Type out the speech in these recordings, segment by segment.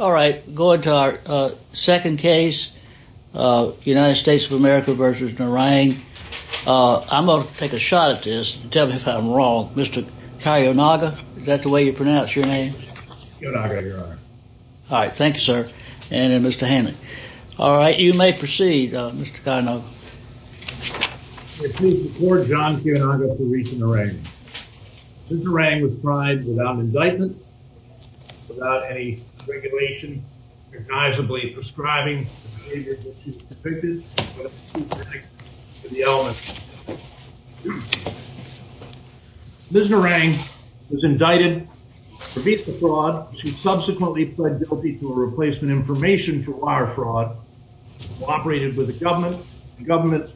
Alright, going to our second case, United States of America v. Narang. I'm going to take a shot at this and tell me if I'm wrong. Mr. Kayonaga, is that the way you pronounce your name? Kayonaga, Your Honor. Alright, thank you, sir. And Mr. Hannon. Alright, you may proceed, Mr. Kayonaga. It is before John Kayonaga v. Richa Narang. Ms. Narang was tried without an indictment, without any regulation, recognizably prescribing the behavior that she's depicted, but it's too specific for the element. Ms. Narang was indicted for visa fraud. She subsequently pled guilty to a replacement information for wire fraud, cooperated with the government. The government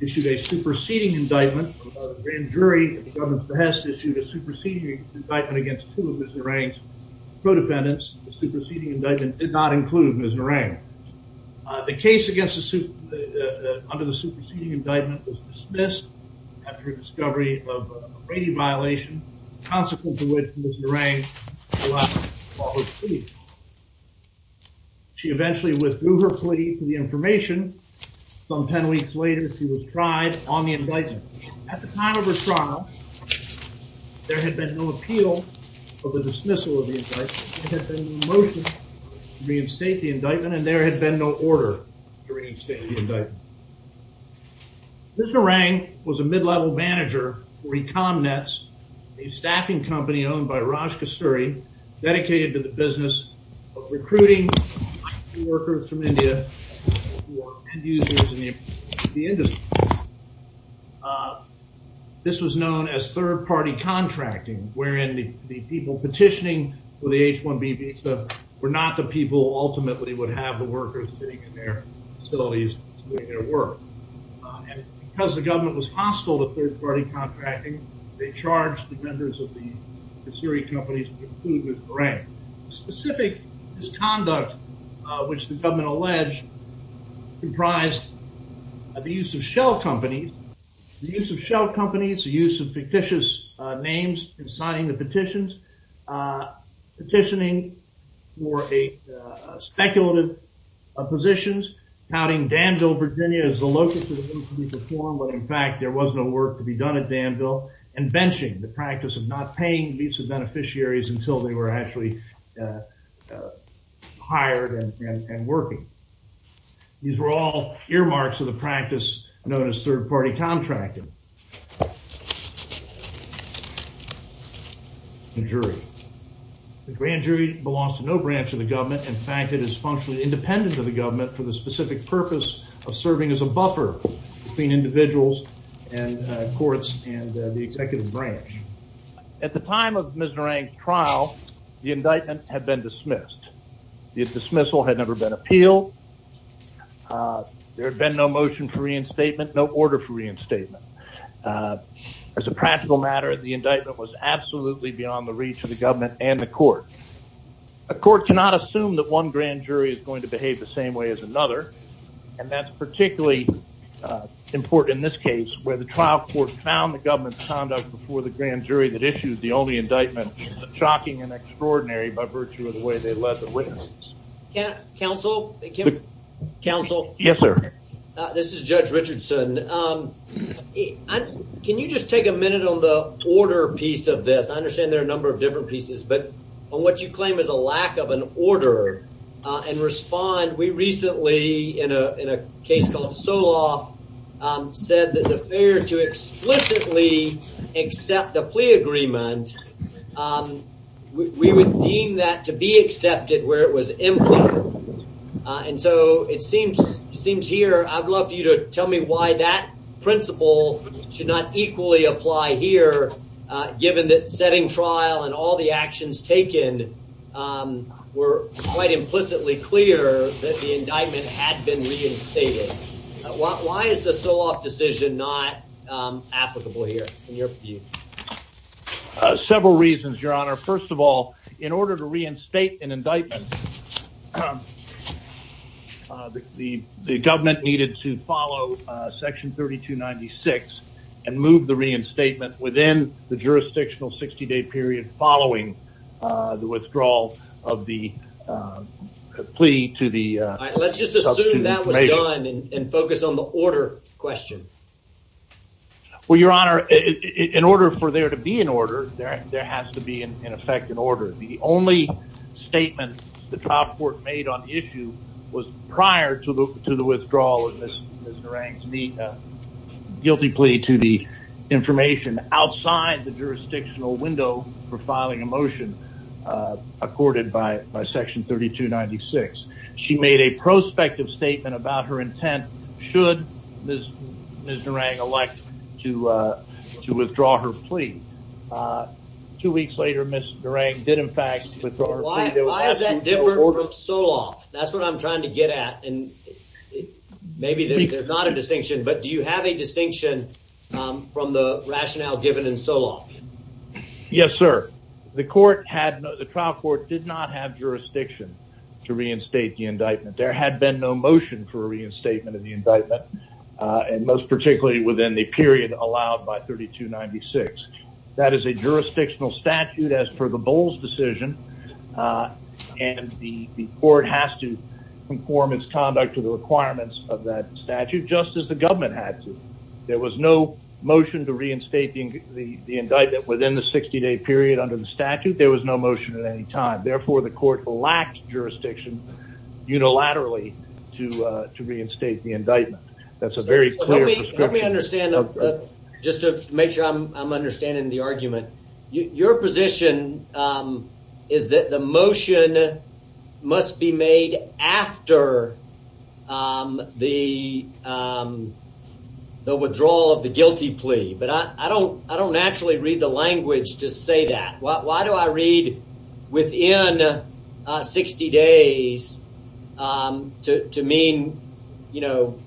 issued a superseding indictment. The grand jury at the government's behest issued a superseding indictment against two of Ms. Narang's co-defendants. The superseding indictment did not include Ms. Narang. The case under the superseding indictment was dismissed after a discovery of a rating violation, consequent to which Ms. Narang was left without a plea. She eventually withdrew her plea for the information. Some ten weeks later, she was tried on the indictment. At the time of her trial, there had been no appeal for the dismissal of the indictment. There had been no motion to reinstate the indictment, and there had been no order to reinstate the indictment. Ms. Narang was a mid-level manager for EconNets, a staffing company owned by Raj Kasturi, dedicated to the business of recruiting workers from India who are end-users in the industry. This was known as third-party contracting, wherein the people petitioning for the H-1B visa were not the people who ultimately would have the workers sitting in their facilities doing their work. And because the government was hostile to third-party contracting, they charged the members of the Siri companies, including Ms. Narang. The specific misconduct, which the government alleged, comprised the use of shell companies. The use of shell companies, the use of fictitious names in signing the petitions, petitioning for speculative positions, touting Danville, Virginia as the locus of the Middle Community Forum, when in fact there was no work to be done at Danville, and benching, the practice of not paying visa beneficiaries until they were actually hired and working. These were all earmarks of the practice known as third-party contracting. The jury. The grand jury belongs to no branch of the government. In fact, it is functionally independent of the government for the specific purpose of serving as a buffer between individuals and courts and the executive branch. At the time of Ms. Narang's trial, the indictment had been dismissed. The dismissal had never been appealed. There had been no motion for reinstatement, no order for reinstatement. As a practical matter, the indictment was absolutely beyond the reach of the government and the court. A court cannot assume that one grand jury is going to behave the same way as another, and that's particularly important in this case, where the trial court found the government's conduct before the grand jury that issued the only indictment shocking and extraordinary by virtue of the way they led the witness. Counsel? Counsel? Yes, sir. This is Judge Richardson. Can you just take a minute on the order piece of this? I understand there are a number of different pieces, but on what you claim is a lack of an order and respond, we recently, in a case called Solov, said that the failure to explicitly accept a plea agreement, we would deem that to be accepted where it was implicit. And so it seems here I'd love you to tell me why that principle should not equally apply here, given that setting trial and all the actions taken were quite implicitly clear that the indictment had been reinstated. Why is the Solov decision not applicable here in your view? Several reasons, Your Honor. First of all, in order to reinstate an indictment, the government needed to follow Section 3296 and move the reinstatement within the jurisdictional 60-day period following the withdrawal of the plea to the substitute major. Let's just assume that was done and focus on the order question. Well, Your Honor, in order for there to be an order, there has to be, in effect, an order. The only statement the trial court made on the issue was prior to the withdrawal of Ms. Narang's guilty plea to the information outside the jurisdictional window for filing a motion accorded by Section 3296. She made a prospective statement about her intent should Ms. Narang elect to withdraw her plea. Two weeks later, Ms. Narang did, in fact, withdraw her plea. Why is that different from Solov? That's what I'm trying to get at. Maybe there's not a distinction, but do you have a distinction from the rationale given in Solov? Yes, sir. The trial court did not have jurisdiction to reinstate the indictment. There had been no motion for reinstatement of the indictment, and most particularly within the period allowed by 3296. That is a jurisdictional statute as per the Bowles decision, and the court has to conform its conduct to the requirements of that statute just as the government had to. There was no motion to reinstate the indictment within the 60-day period under the statute. There was no motion at any time. Therefore, the court lacked jurisdiction unilaterally to reinstate the indictment. That's a very clear prescription. Let me understand, just to make sure I'm understanding the argument. Your position is that the motion must be made after the withdrawal of the guilty plea, but I don't naturally read the language to say that. Why do I read within 60 days to mean, you know,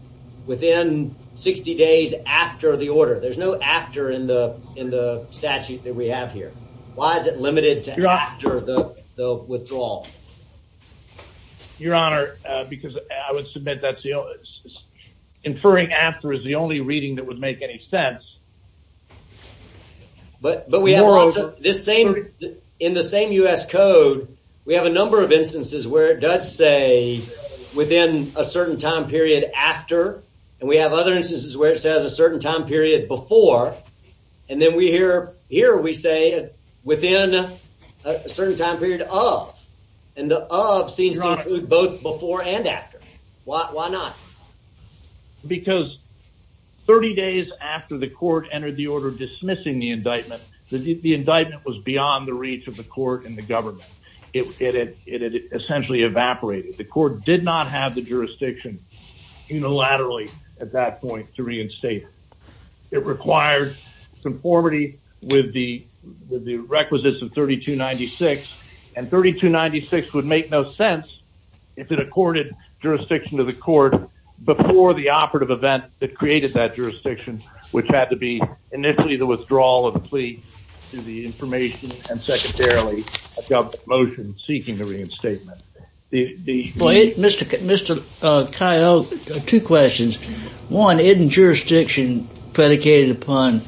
within 60 days after the order? There's no after in the statute that we have here. Why is it limited to after the withdrawal? Your Honor, because I would submit that inferring after is the only reading that would make any sense. But in the same U.S. Code, we have a number of instances where it does say within a certain time period after, and we have other instances where it says a certain time period before, and then here we say within a certain time period of, and the of seems to include both before and after. Why not? Because 30 days after the court entered the order dismissing the indictment, the indictment was beyond the reach of the court and the government. It had essentially evaporated. The court did not have the jurisdiction unilaterally at that point to reinstate it. It required conformity with the requisites of 3296, and 3296 would make no sense if it accorded jurisdiction to the court before the operative event that created that jurisdiction, which had to be initially the withdrawal of the plea to the information and secondarily a government motion seeking the reinstatement. Mr. Coyoke, two questions. One, isn't jurisdiction predicated upon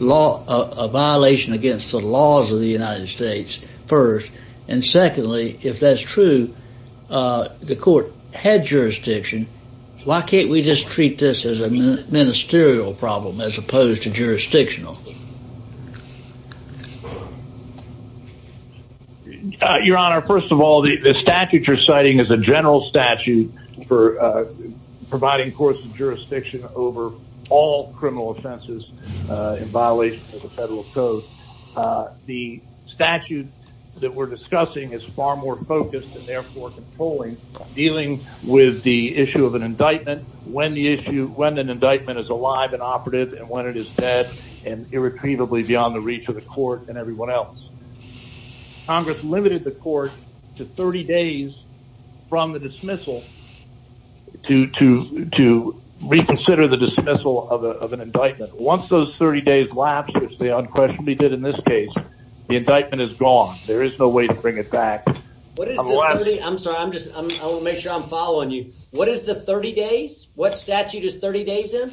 a violation against the laws of the United States first? And secondly, if that's true, the court had jurisdiction. Why can't we just treat this as a ministerial problem as opposed to jurisdictional? Your Honor, first of all, the statute you're citing is a general statute for providing course of jurisdiction over all criminal offenses in violation of the federal code. The statute that we're discussing is far more focused and therefore controlling, dealing with the issue of an indictment when the issue when an indictment is alive and operative and when it is dead and irretrievably beyond the reach of the court and everyone else. Congress limited the court to 30 days from the dismissal to reconsider the dismissal of an indictment. Once those 30 days lapse, which they unquestionably did in this case, the indictment is gone. There is no way to bring it back. I'm sorry. I'm just I want to make sure I'm following you. What is the 30 days? What statute is 30 days in?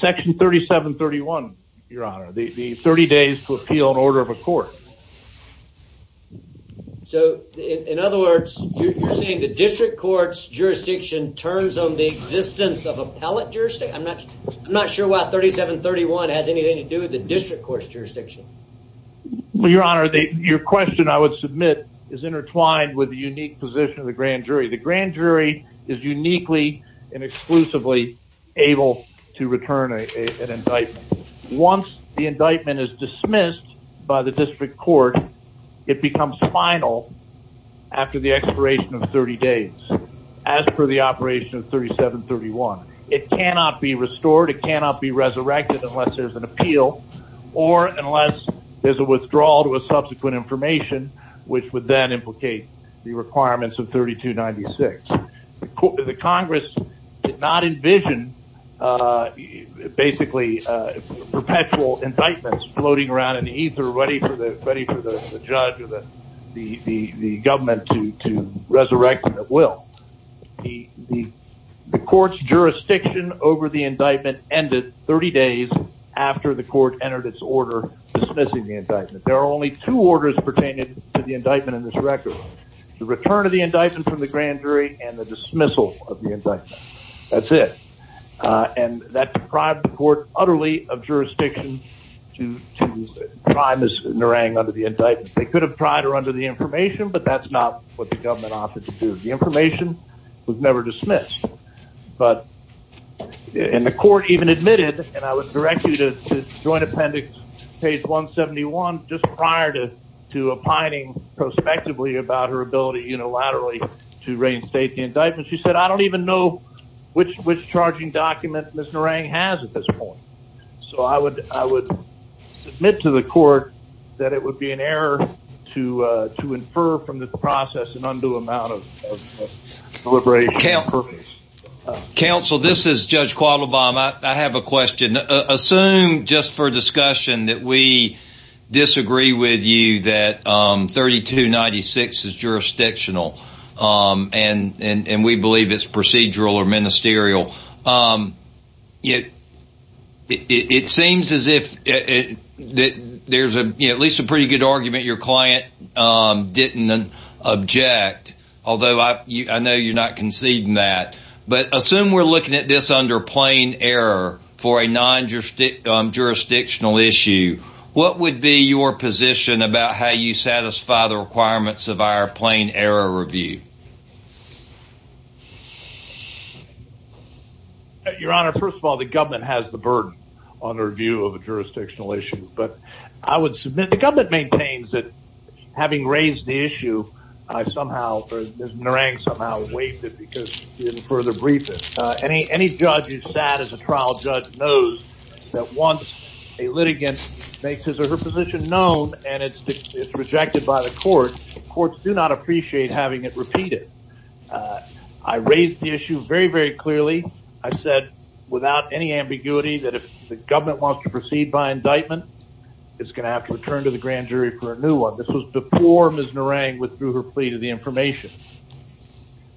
Section 3731, Your Honor, the 30 days to appeal an order of a court. So, in other words, you're saying the district court's jurisdiction turns on the existence of appellate jurisdiction. I'm not I'm not sure what 3731 has anything to do with the district court's jurisdiction. Your Honor, your question, I would submit, is intertwined with the unique position of the grand jury. The grand jury is uniquely and exclusively able to return an indictment. Once the indictment is dismissed by the district court, it becomes final after the expiration of 30 days. As per the operation of 3731, it cannot be restored. It cannot be resurrected unless there's an appeal or unless there's a withdrawal to a subsequent information, which would then implicate the requirements of 3296. The Congress did not envision basically perpetual indictments floating around in the ether, ready for the judge or the government to resurrect them at will. The court's jurisdiction over the indictment ended 30 days after the court entered its order dismissing the indictment. There are only two orders pertaining to the indictment in this record. The return of the indictment from the grand jury and the dismissal of the indictment. That's it. And that deprived the court utterly of jurisdiction to try Ms. Narang under the indictment. They could have tried her under the information, but that's not what the government offered to do. The information was never dismissed. And the court even admitted, and I would direct you to joint appendix page 171, just prior to opining prospectively about her ability unilaterally to reinstate the indictment. She said, I don't even know which charging document Ms. Narang has at this point. So I would submit to the court that it would be an error to infer from this process an undue amount of deliberation. Counsel, this is Judge Quattlebaum. I have a question. Assume just for discussion that we disagree with you that 3296 is jurisdictional, and we believe it's procedural or ministerial. It seems as if there's at least a pretty good argument your client didn't object, although I know you're not conceding that. But assume we're looking at this under plain error for a non-jurisdictional issue. What would be your position about how you satisfy the requirements of our plain error review? Your Honor, first of all, the government has the burden on the review of a jurisdictional issue. But I would submit the government maintains that having raised the issue, somehow Ms. Narang somehow waived it because she didn't further brief it. Any judge who's sat as a trial judge knows that once a litigant makes his or her position known and it's rejected by the court, the courts do not appreciate having it repeated. I raised the issue very, very clearly. I said without any ambiguity that if the government wants to proceed by indictment, it's going to have to return to the grand jury for a new one. This was before Ms. Narang withdrew her plea to the information.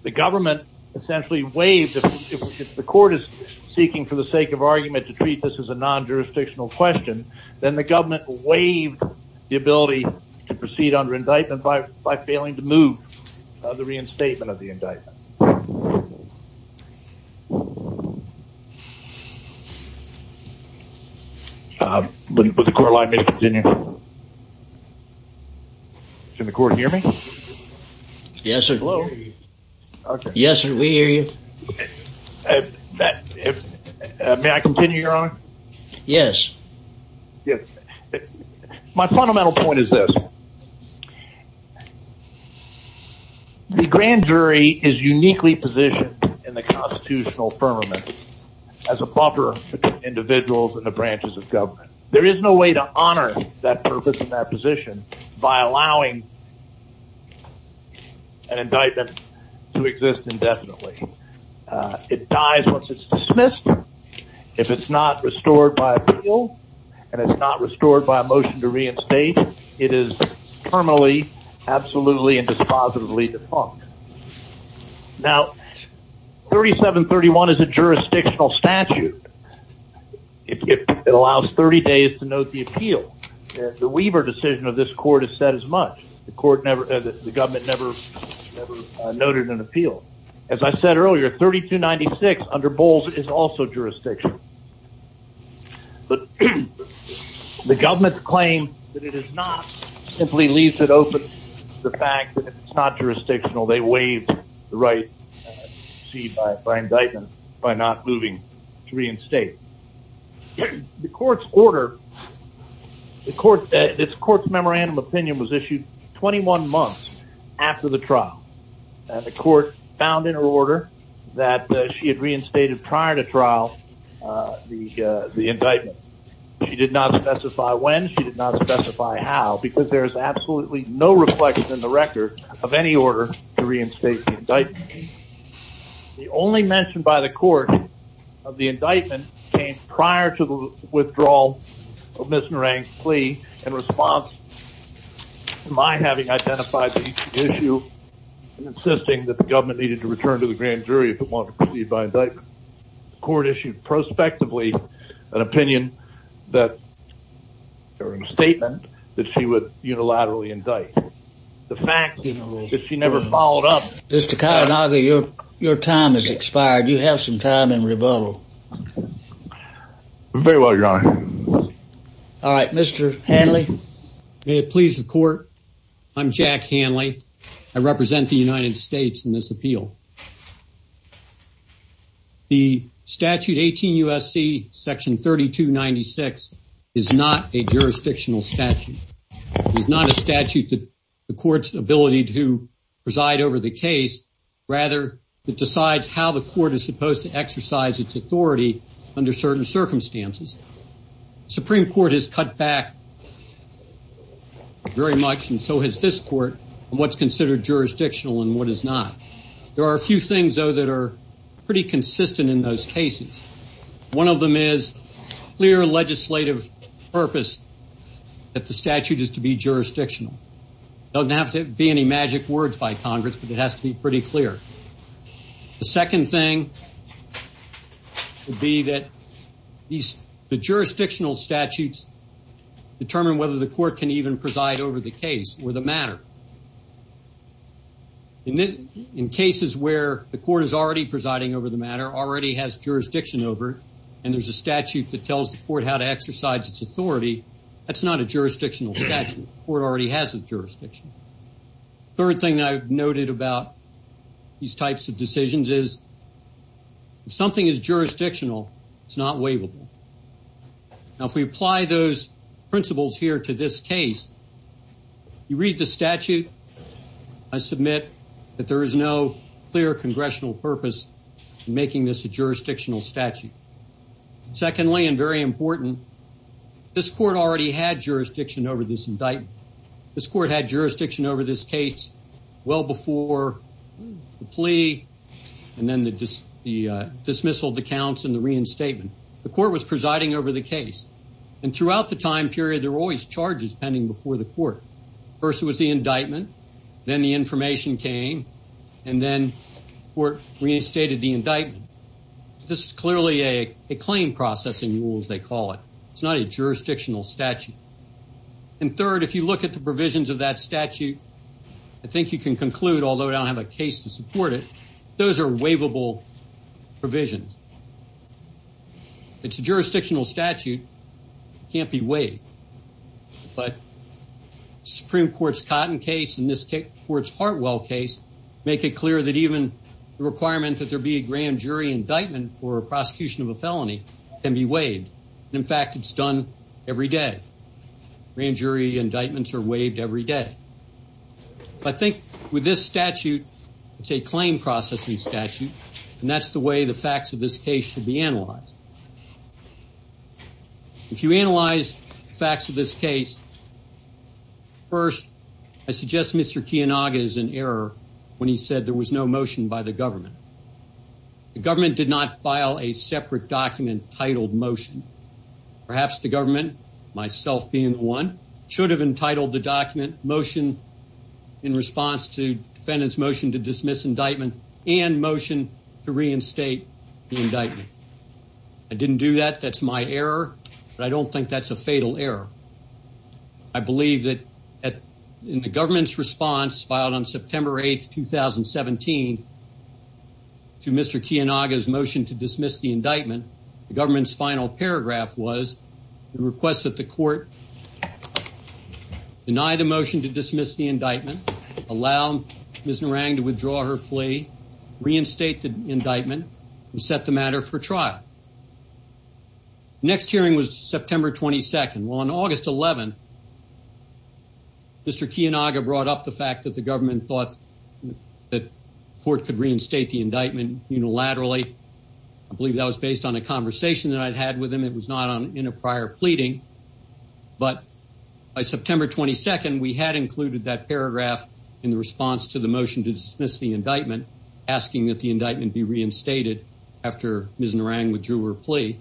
The government essentially waived. If the court is seeking for the sake of argument to treat this as a non-jurisdictional question, then the government waived the ability to proceed under indictment by failing to move the reinstatement of the indictment. Would the court allow me to continue? Can the court hear me? Yes, sir. Yes, sir. We hear you. May I continue, Your Honor? Yes. My fundamental point is this. The grand jury is uniquely positioned in the constitutional firmament as a buffer between individuals and the branches of government. There is no way to honor that purpose and that position by allowing an indictment to exist indefinitely. It dies once it's dismissed. If it's not restored by appeal and it's not restored by a motion to reinstate, it is permanently, absolutely, and dispositively defunct. Now, 3731 is a jurisdictional statute. It allows 30 days to note the appeal. The Weaver decision of this court has said as much. The government never noted an appeal. As I said earlier, 3296 under Bowles is also jurisdictional. The government's claim that it is not simply leaves it open to the fact that it's not jurisdictional. They waive the right to proceed by indictment by not moving to reinstate. The court's order, this court's memorandum of opinion was issued 21 months after the trial. The court found in her order that she had reinstated prior to trial the indictment. She did not specify when, she did not specify how, because there is absolutely no reflection in the record of any order to reinstate the indictment. The only mention by the court of the indictment came prior to the withdrawal of Ms. Narang's plea in response to my having identified the issue and insisting that the government needed to return to the grand jury if it wanted to proceed by indictment. The court issued prospectively an opinion that, or a statement that she would unilaterally indict. The fact that she never followed up. Mr. Kayanagi, your time has expired. You have some time in rebuttal. Very well, Your Honor. All right, Mr. Hanley. May it please the court, I'm Jack Hanley. I represent the United States in this appeal. The statute 18 U.S.C. section 3296 is not a jurisdictional statute. It is not a statute that the court's ability to preside over the case, rather it decides how the court is supposed to exercise its authority under certain circumstances. The Supreme Court has cut back very much, and so has this court, on what's considered jurisdictional and what is not. There are a few things, though, that are pretty consistent in those cases. One of them is clear legislative purpose that the statute is to be jurisdictional. It doesn't have to be any magic words by Congress, but it has to be pretty clear. The second thing would be that the jurisdictional statutes determine whether the court can even preside over the case or the matter. In cases where the court is already presiding over the matter, already has jurisdiction over, and there's a statute that tells the court how to exercise its authority, that's not a jurisdictional statute. The court already has a jurisdiction. The third thing that I've noted about these types of decisions is if something is jurisdictional, it's not waivable. Now, if we apply those principles here to this case, you read the statute. I submit that there is no clear congressional purpose in making this a jurisdictional statute. Secondly, and very important, this court already had jurisdiction over this indictment. This court had jurisdiction over this case well before the plea and then the dismissal of the counts and the reinstatement. The court was presiding over the case, and throughout the time period, there were always charges pending before the court. First was the indictment, then the information came, and then the court reinstated the indictment. This is clearly a claim processing rule, as they call it. It's not a jurisdictional statute. And third, if you look at the provisions of that statute, I think you can conclude, although I don't have a case to support it, those are waivable provisions. It's a jurisdictional statute. It can't be waived. But the Supreme Court's Cotton case and this court's Hartwell case make it clear that even the requirement that there be a grand jury indictment for a prosecution of a felony can be waived. In fact, it's done every day. Grand jury indictments are waived every day. I think with this statute, it's a claim processing statute, and that's the way the facts of this case should be analyzed. If you analyze the facts of this case, first, I suggest Mr. Kiyonaga is in error when he said there was no motion by the government. The government did not file a separate document titled motion. Perhaps the government, myself being the one, should have entitled the document motion in response to defendant's motion to dismiss indictment and motion to reinstate the indictment. I didn't do that. That's my error, but I don't think that's a fatal error. I believe that in the government's response filed on September 8, 2017, to Mr. Kiyonaga's motion to dismiss the indictment, the government's final paragraph was the request that the court deny the motion to dismiss the indictment, allow Ms. Narang to withdraw her plea, reinstate the indictment, and set the matter for trial. Next hearing was September 22. Well, on August 11, Mr. Kiyonaga brought up the fact that the government thought the court could reinstate the indictment unilaterally. I believe that was based on a conversation that I'd had with him. It was not in a prior pleading. But by September 22, we had included that paragraph in the response to the motion to dismiss the indictment, asking that the indictment be reinstated after Ms. Narang withdrew her plea.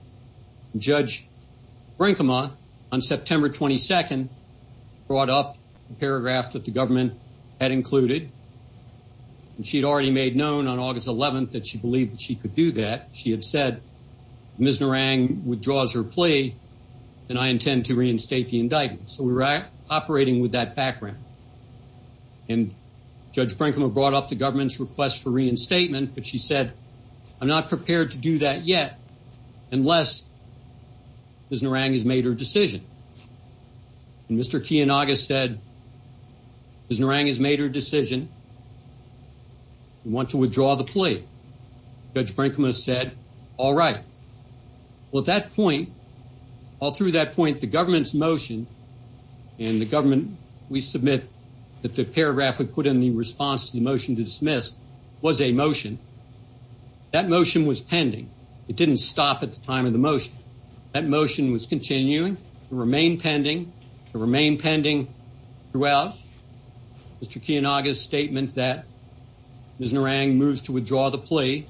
Judge Brinkema, on September 22, brought up the paragraph that the government had included. And she had already made known on August 11 that she believed that she could do that. She had said, Ms. Narang withdraws her plea, and I intend to reinstate the indictment. So we were operating with that background. And Judge Brinkema brought up the government's request for reinstatement. But she said, I'm not prepared to do that yet unless Ms. Narang has made her decision. And Mr. Kiyonaga said, Ms. Narang has made her decision. We want to withdraw the plea. Judge Brinkema said, all right. Well, at that point, all through that point, the government's motion, and the government, we submit that the paragraph we put in the response to the motion to dismiss was a motion. That motion was pending. It didn't stop at the time of the motion. That motion was continuing to remain pending, to remain pending throughout Mr. Kiyonaga's statement that Ms. Narang moves to withdraw the plea.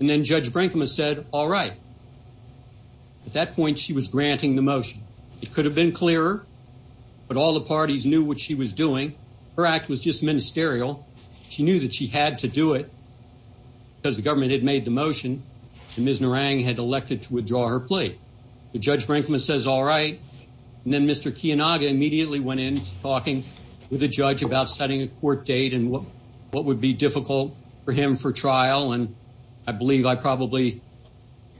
And then Judge Brinkema said, all right. At that point, she was granting the motion. It could have been clearer, but all the parties knew what she was doing. Her act was just ministerial. She knew that she had to do it because the government had made the motion, and Ms. Narang had elected to withdraw her plea. Judge Brinkema says, all right. And then Mr. Kiyonaga immediately went in talking with the judge about setting a court date and what would be difficult for him for trial. And I believe I probably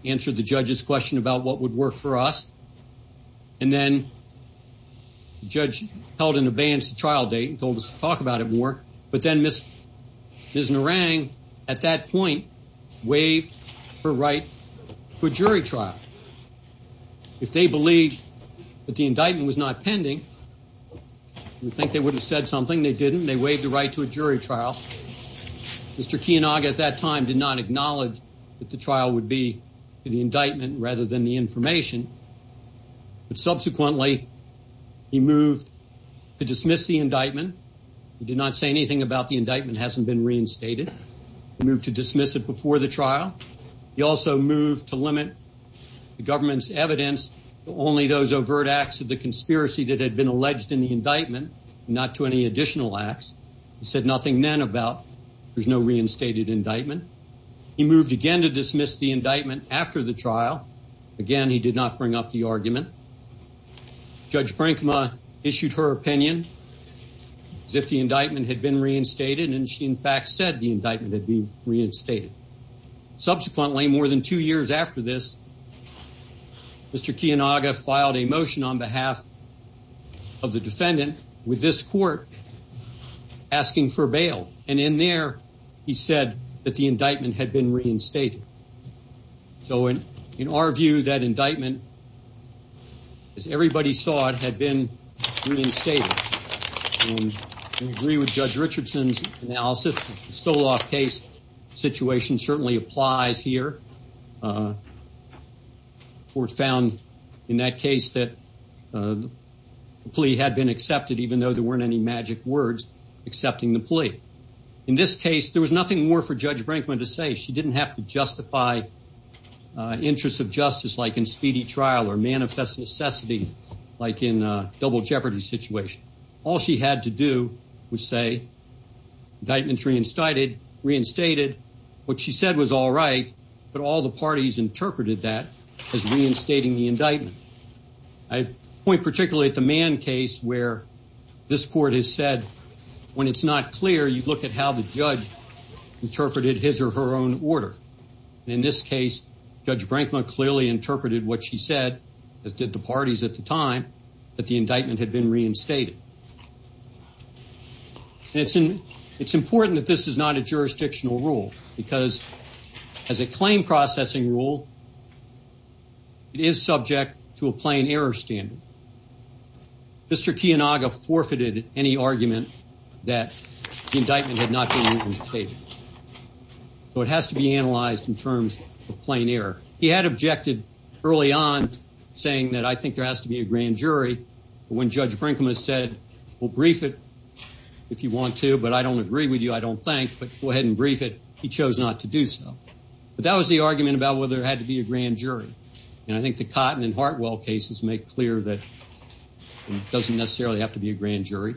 answered the judge's question about what would work for us. And then the judge held in abeyance the trial date and told us to talk about it more. But then Ms. Narang, at that point, waived her right to a jury trial. If they believed that the indictment was not pending, we think they would have said something. They didn't. They waived the right to a jury trial. Mr. Kiyonaga, at that time, did not acknowledge that the trial would be the indictment rather than the information. But subsequently, he moved to dismiss the indictment. He did not say anything about the indictment. It hasn't been reinstated. He moved to dismiss it before the trial. He also moved to limit the government's evidence to only those overt acts of the conspiracy that had been alleged in the indictment, not to any additional acts. He said nothing then about there's no reinstated indictment. He moved again to dismiss the indictment after the trial. Again, he did not bring up the argument. Judge Brinkma issued her opinion as if the indictment had been reinstated, and she, in fact, said the indictment had been reinstated. Subsequently, more than two years after this, Mr. Kiyonaga filed a motion on behalf of the defendant with this court asking for bail. And in there, he said that the indictment had been reinstated. So in our view, that indictment, as everybody saw it, had been reinstated. We agree with Judge Richardson's analysis. The Stoloff case situation certainly applies here. The court found in that case that the plea had been accepted, even though there weren't any magic words accepting the plea. In this case, there was nothing more for Judge Brinkma to say. She didn't have to justify interests of justice like in speedy trial or manifest necessity like in a double jeopardy situation. All she had to do was say, indictment reinstated. What she said was all right, but all the parties interpreted that as reinstating the indictment. I point particularly at the Mann case where this court has said, when it's not clear, you look at how the judge interpreted his or her own order. In this case, Judge Brinkma clearly interpreted what she said, as did the parties at the time, that the indictment had been reinstated. It's important that this is not a jurisdictional rule because as a claim processing rule, it is subject to a plain error standard. Mr. Kiyonaga forfeited any argument that the indictment had not been reinstated. So it has to be analyzed in terms of plain error. He had objected early on saying that I think there has to be a grand jury. When Judge Brinkma said, well, brief it if you want to, but I don't agree with you, I don't think, but go ahead and brief it, he chose not to do so. But that was the argument about whether there had to be a grand jury. And I think the Cotton and Hartwell cases make clear that it doesn't necessarily have to be a grand jury.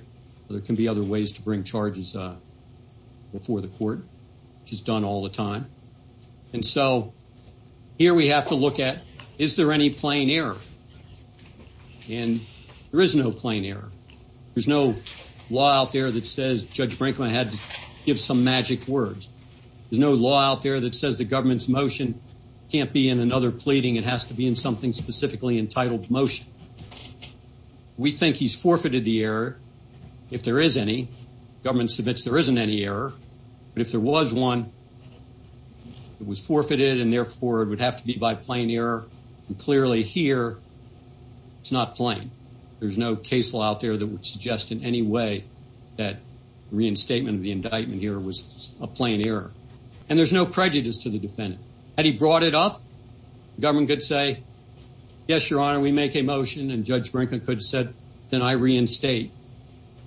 There can be other ways to bring charges before the court, which is done all the time. And so here we have to look at, is there any plain error? And there is no plain error. There's no law out there that says Judge Brinkma had to give some magic words. There's no law out there that says the government's motion can't be in another pleading. It has to be in something specifically entitled motion. We think he's forfeited the error, if there is any. The government submits there isn't any error. But if there was one, it was forfeited, and therefore it would have to be by plain error. And clearly here, it's not plain. There's no case law out there that would suggest in any way that reinstatement of the indictment here was a plain error. And there's no prejudice to the defendant. Had he brought it up, the government could say, yes, Your Honor, we make a motion, and Judge Brinkma could have said, then I reinstate.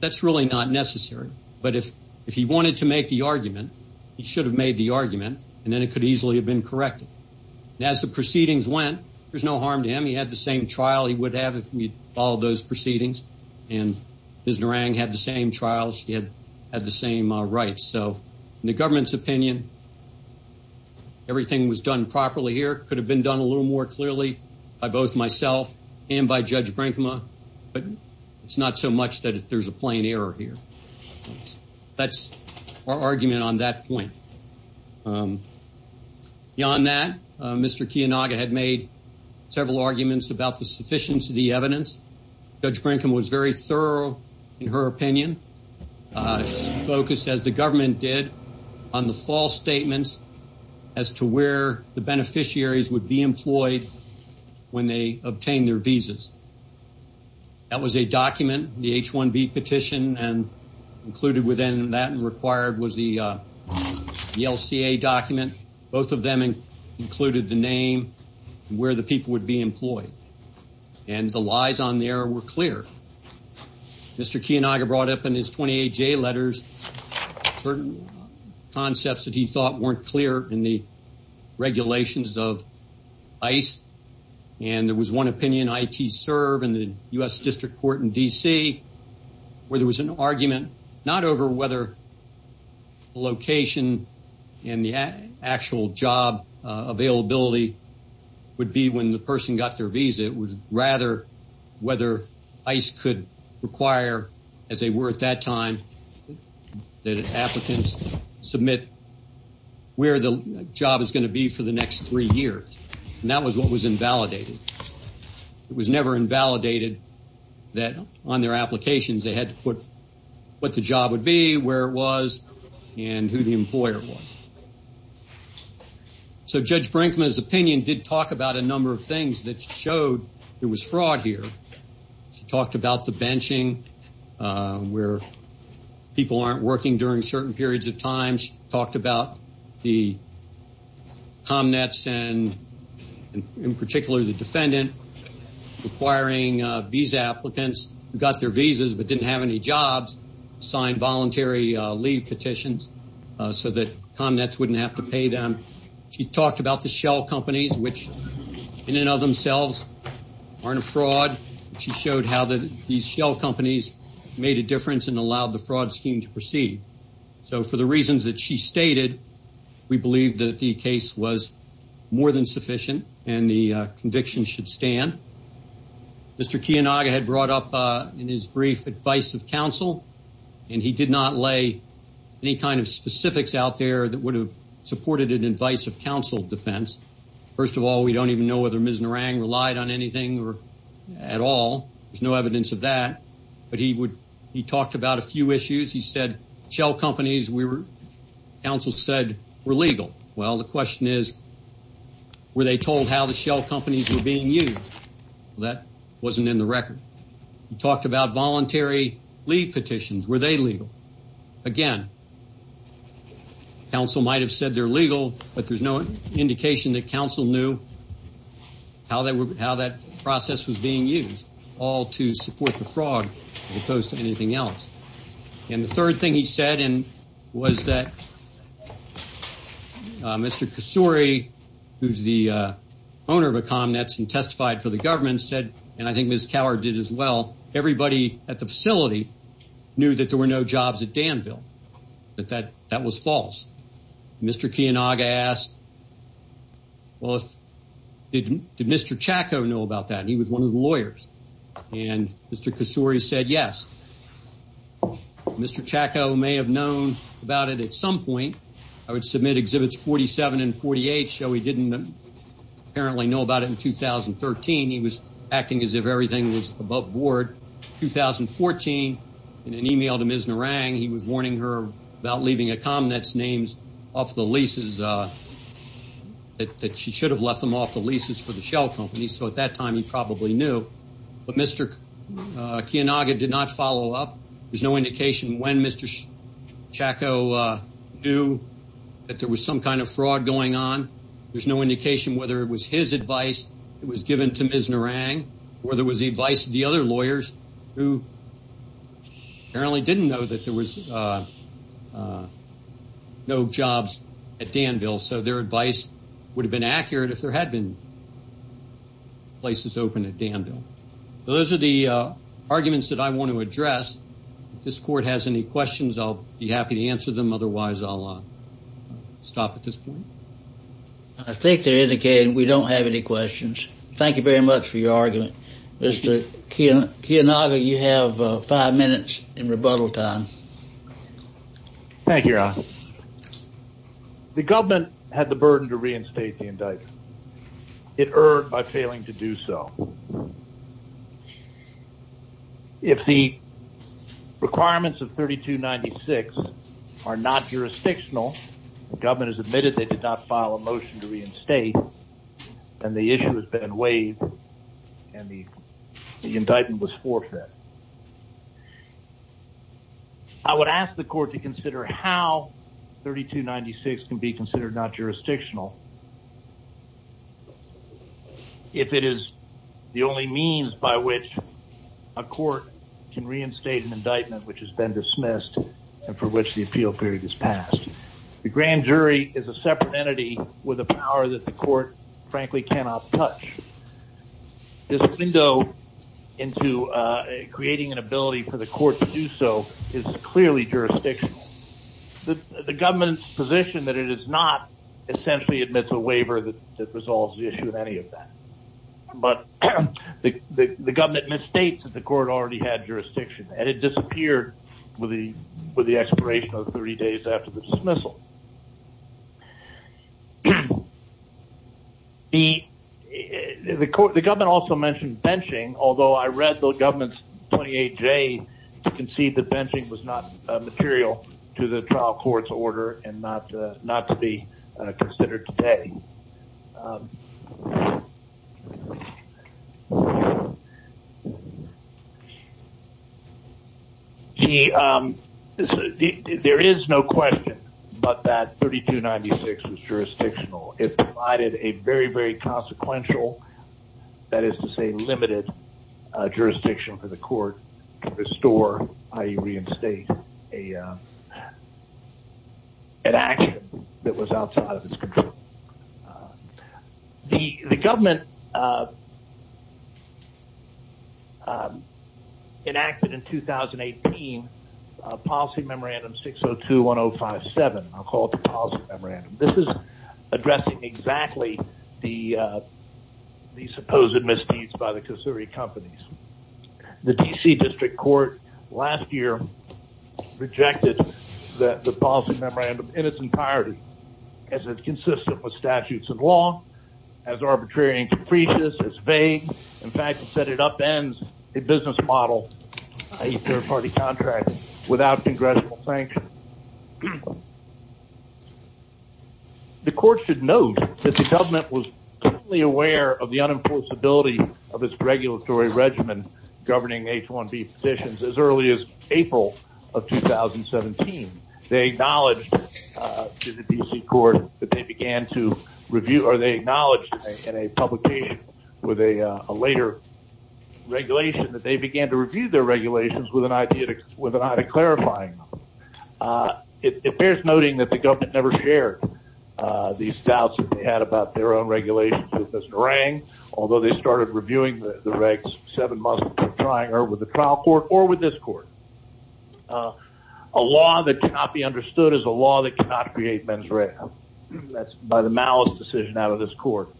That's really not necessary. But if he wanted to make the argument, he should have made the argument, and then it could easily have been corrected. As the proceedings went, there's no harm to him. He had the same trial he would have if he had followed those proceedings. And Ms. Narang had the same trials. She had the same rights. So in the government's opinion, everything was done properly here. It could have been done a little more clearly by both myself and by Judge Brinkma. But it's not so much that there's a plain error here. That's our argument on that point. Beyond that, Mr. Kiyonaga had made several arguments about the sufficiency of the evidence. Judge Brinkma was very thorough in her opinion. She focused, as the government did, on the false statements as to where the beneficiaries would be employed when they obtained their visas. That was a document, the H-1B petition, and included within that and required was the LCA document. Both of them included the name and where the people would be employed. And the lies on there were clear. Mr. Kiyonaga brought up in his 28-J letters certain concepts that he thought weren't clear in the regulations of ICE. And there was one opinion, ITSERV, in the U.S. District Court in D.C., where there was an argument not over whether location and the actual job availability would be when the person got their visa. It was rather whether ICE could require, as they were at that time, that applicants submit where the job is going to be for the next three years. And that was what was invalidated. It was never invalidated that on their applications they had to put what the job would be, where it was, and who the employer was. So Judge Brinkma's opinion did talk about a number of things that showed there was fraud here. She talked about the benching, where people aren't working during certain periods of time. She talked about the ComNets and, in particular, the defendant requiring visa applicants who got their visas but didn't have any jobs sign voluntary leave petitions so that ComNets wouldn't have to pay them. She talked about the shell companies, which in and of themselves aren't a fraud. She showed how these shell companies made a difference and allowed the fraud scheme to proceed. So for the reasons that she stated, we believe that the case was more than sufficient and the conviction should stand. Mr. Kiyonaga had brought up in his brief advice of counsel, and he did not lay any kind of specifics out there that would have supported an advice of counsel defense. First of all, we don't even know whether Ms. Narang relied on anything at all. There's no evidence of that. But he talked about a few issues. He said shell companies, counsel said, were legal. Well, the question is, were they told how the shell companies were being used? Well, that wasn't in the record. He talked about voluntary leave petitions. Were they legal? Again, counsel might have said they're legal, but there's no indication that counsel knew how that process was being used, all to support the fraud as opposed to anything else. And the third thing he said was that Mr. Kasuri, who's the owner of Economets and testified for the government, said, and I think Ms. Coward did as well, everybody at the facility knew that there were no jobs at Danville, that that was false. Mr. Kiyonaga asked, well, did Mr. Chacko know about that? He was one of the lawyers. And Mr. Kasuri said yes. Mr. Chacko may have known about it at some point. I would submit Exhibits 47 and 48. So he didn't apparently know about it in 2013. He was acting as if everything was above board. In 2014, in an e-mail to Ms. Narang, he was warning her about leaving Economets names off the leases, that she should have left them off the leases for the Shell Company. So at that time he probably knew. But Mr. Kiyonaga did not follow up. There's no indication when Mr. Chacko knew that there was some kind of fraud going on. There's no indication whether it was his advice that was given to Ms. Narang or whether it was the advice of the other lawyers who apparently didn't know that there was no jobs at Danville. So their advice would have been accurate if there had been places open at Danville. Those are the arguments that I want to address. If this court has any questions, I'll be happy to answer them. Otherwise, I'll stop at this point. I think they're indicating we don't have any questions. Thank you very much for your argument. Mr. Kiyonaga, you have five minutes in rebuttal time. Thank you, Ron. The government had the burden to reinstate the indictment. It erred by failing to do so. If the requirements of 3296 are not jurisdictional, the government has admitted they did not file a motion to reinstate, and the issue has been waived, and the indictment was forfeit. I would ask the court to consider how 3296 can be considered not jurisdictional if it is the only means by which a court can reinstate an indictment which has been dismissed and for which the appeal period has passed. The grand jury is a separate entity with a power that the court, frankly, cannot touch. This window into creating an ability for the court to do so is clearly jurisdictional. The government's position that it is not essentially admits a waiver that resolves the issue of any of that. But the government misstates that the court already had jurisdiction, and it disappeared with the expiration of 30 days after the dismissal. The government also mentioned benching, although I read the government's 28J to concede that benching was not material to the trial court's order and not to be considered today. There is no question but that 3296 was jurisdictional. It provided a very, very consequential, that is to say, limited jurisdiction for the court to restore, i.e. reinstate an action that was outside of its control. The government enacted in 2018 a policy memorandum 6021057. I'll call it the policy memorandum. This is addressing exactly the supposed misuse by the COSURI companies. The D.C. District Court last year rejected the policy memorandum in its entirety as it's consistent with statutes of law, as arbitrary and capricious, as vague. In fact, it said it upends a business model, i.e. third-party contracting, without congressional sanction. The court should note that the government was aware of the unenforceability of its regulatory regimen governing H-1B positions as early as April of 2017. They acknowledged to the D.C. court that they began to review, or they acknowledged in a publication with a later regulation that they began to review their regulations with an eye to clarifying them. It bears noting that the government never shared these doubts that they had about their own regulations with Mr. Wrang, although they started reviewing the regs seven months prior with the trial court or with this court. A law that cannot be understood is a law that cannot create men's regs. That's by the malice decision out of this court.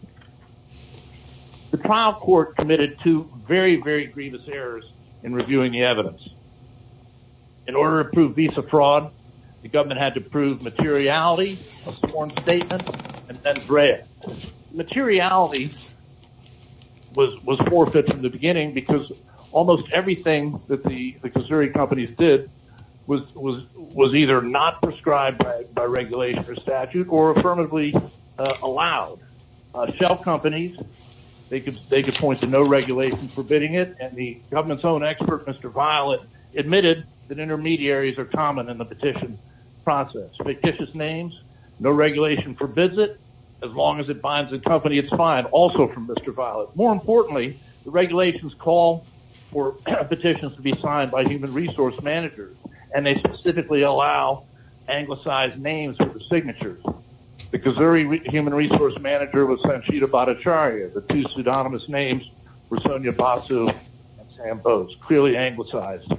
The trial court committed two very, very grievous errors in reviewing the evidence. In order to prove visa fraud, the government had to prove materiality, a sworn statement, and then grant. Materiality was forfeited in the beginning because almost everything that the consulting companies did was either not prescribed by regulation or statute or affirmatively allowed. Shelf companies, they could point to no regulation forbidding it. The government's own expert, Mr. Violet, admitted that intermediaries are common in the petition process. Fictitious names, no regulation forbids it. As long as it binds the company, it's fine, also from Mr. Violet. More importantly, the regulations call for petitions to be signed by human resource managers, and they specifically allow anglicized names for the signatures. The Kazuri human resource manager was Sanchita Bhattacharya. The two pseudonymous names were Sonia Basu and Sam Bowes, clearly anglicized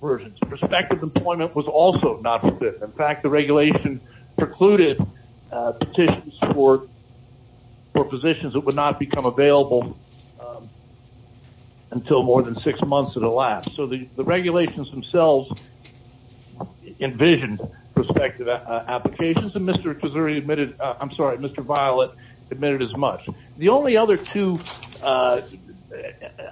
versions. Prospective employment was also not forbidden. In fact, the regulation precluded petitions for positions that would not become available until more than six months of the last. So the regulations themselves envisioned prospective applications, and Mr. Kazuri admitted, I'm sorry, Mr. Violet admitted as much. The only other two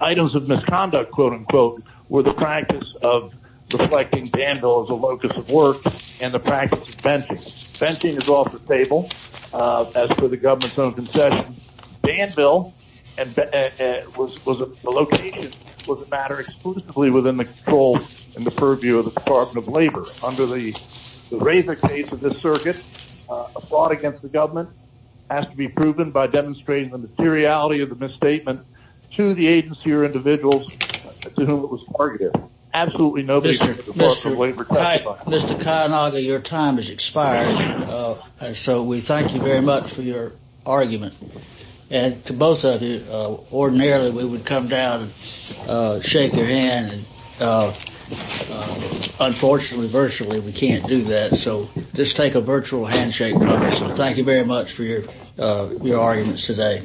items of misconduct, quote-unquote, were the practice of reflecting Danville as a locus of work and the practice of venting. Venting is off the table as per the government's own concession. Danville was a location, was a matter exclusively within the control and the purview of the Department of Labor. Under the razor case of this circuit, a fraud against the government has to be proven by demonstrating the materiality of the misstatement to the agency or individuals to whom it was targeted. Absolutely nobody turned to the Department of Labor. Mr. Kayanaga, your time has expired. So we thank you very much for your argument. And to both of you, ordinarily we would come down and shake your hand. Unfortunately, virtually we can't do that. So just take a virtual handshake. Thank you very much for your arguments today.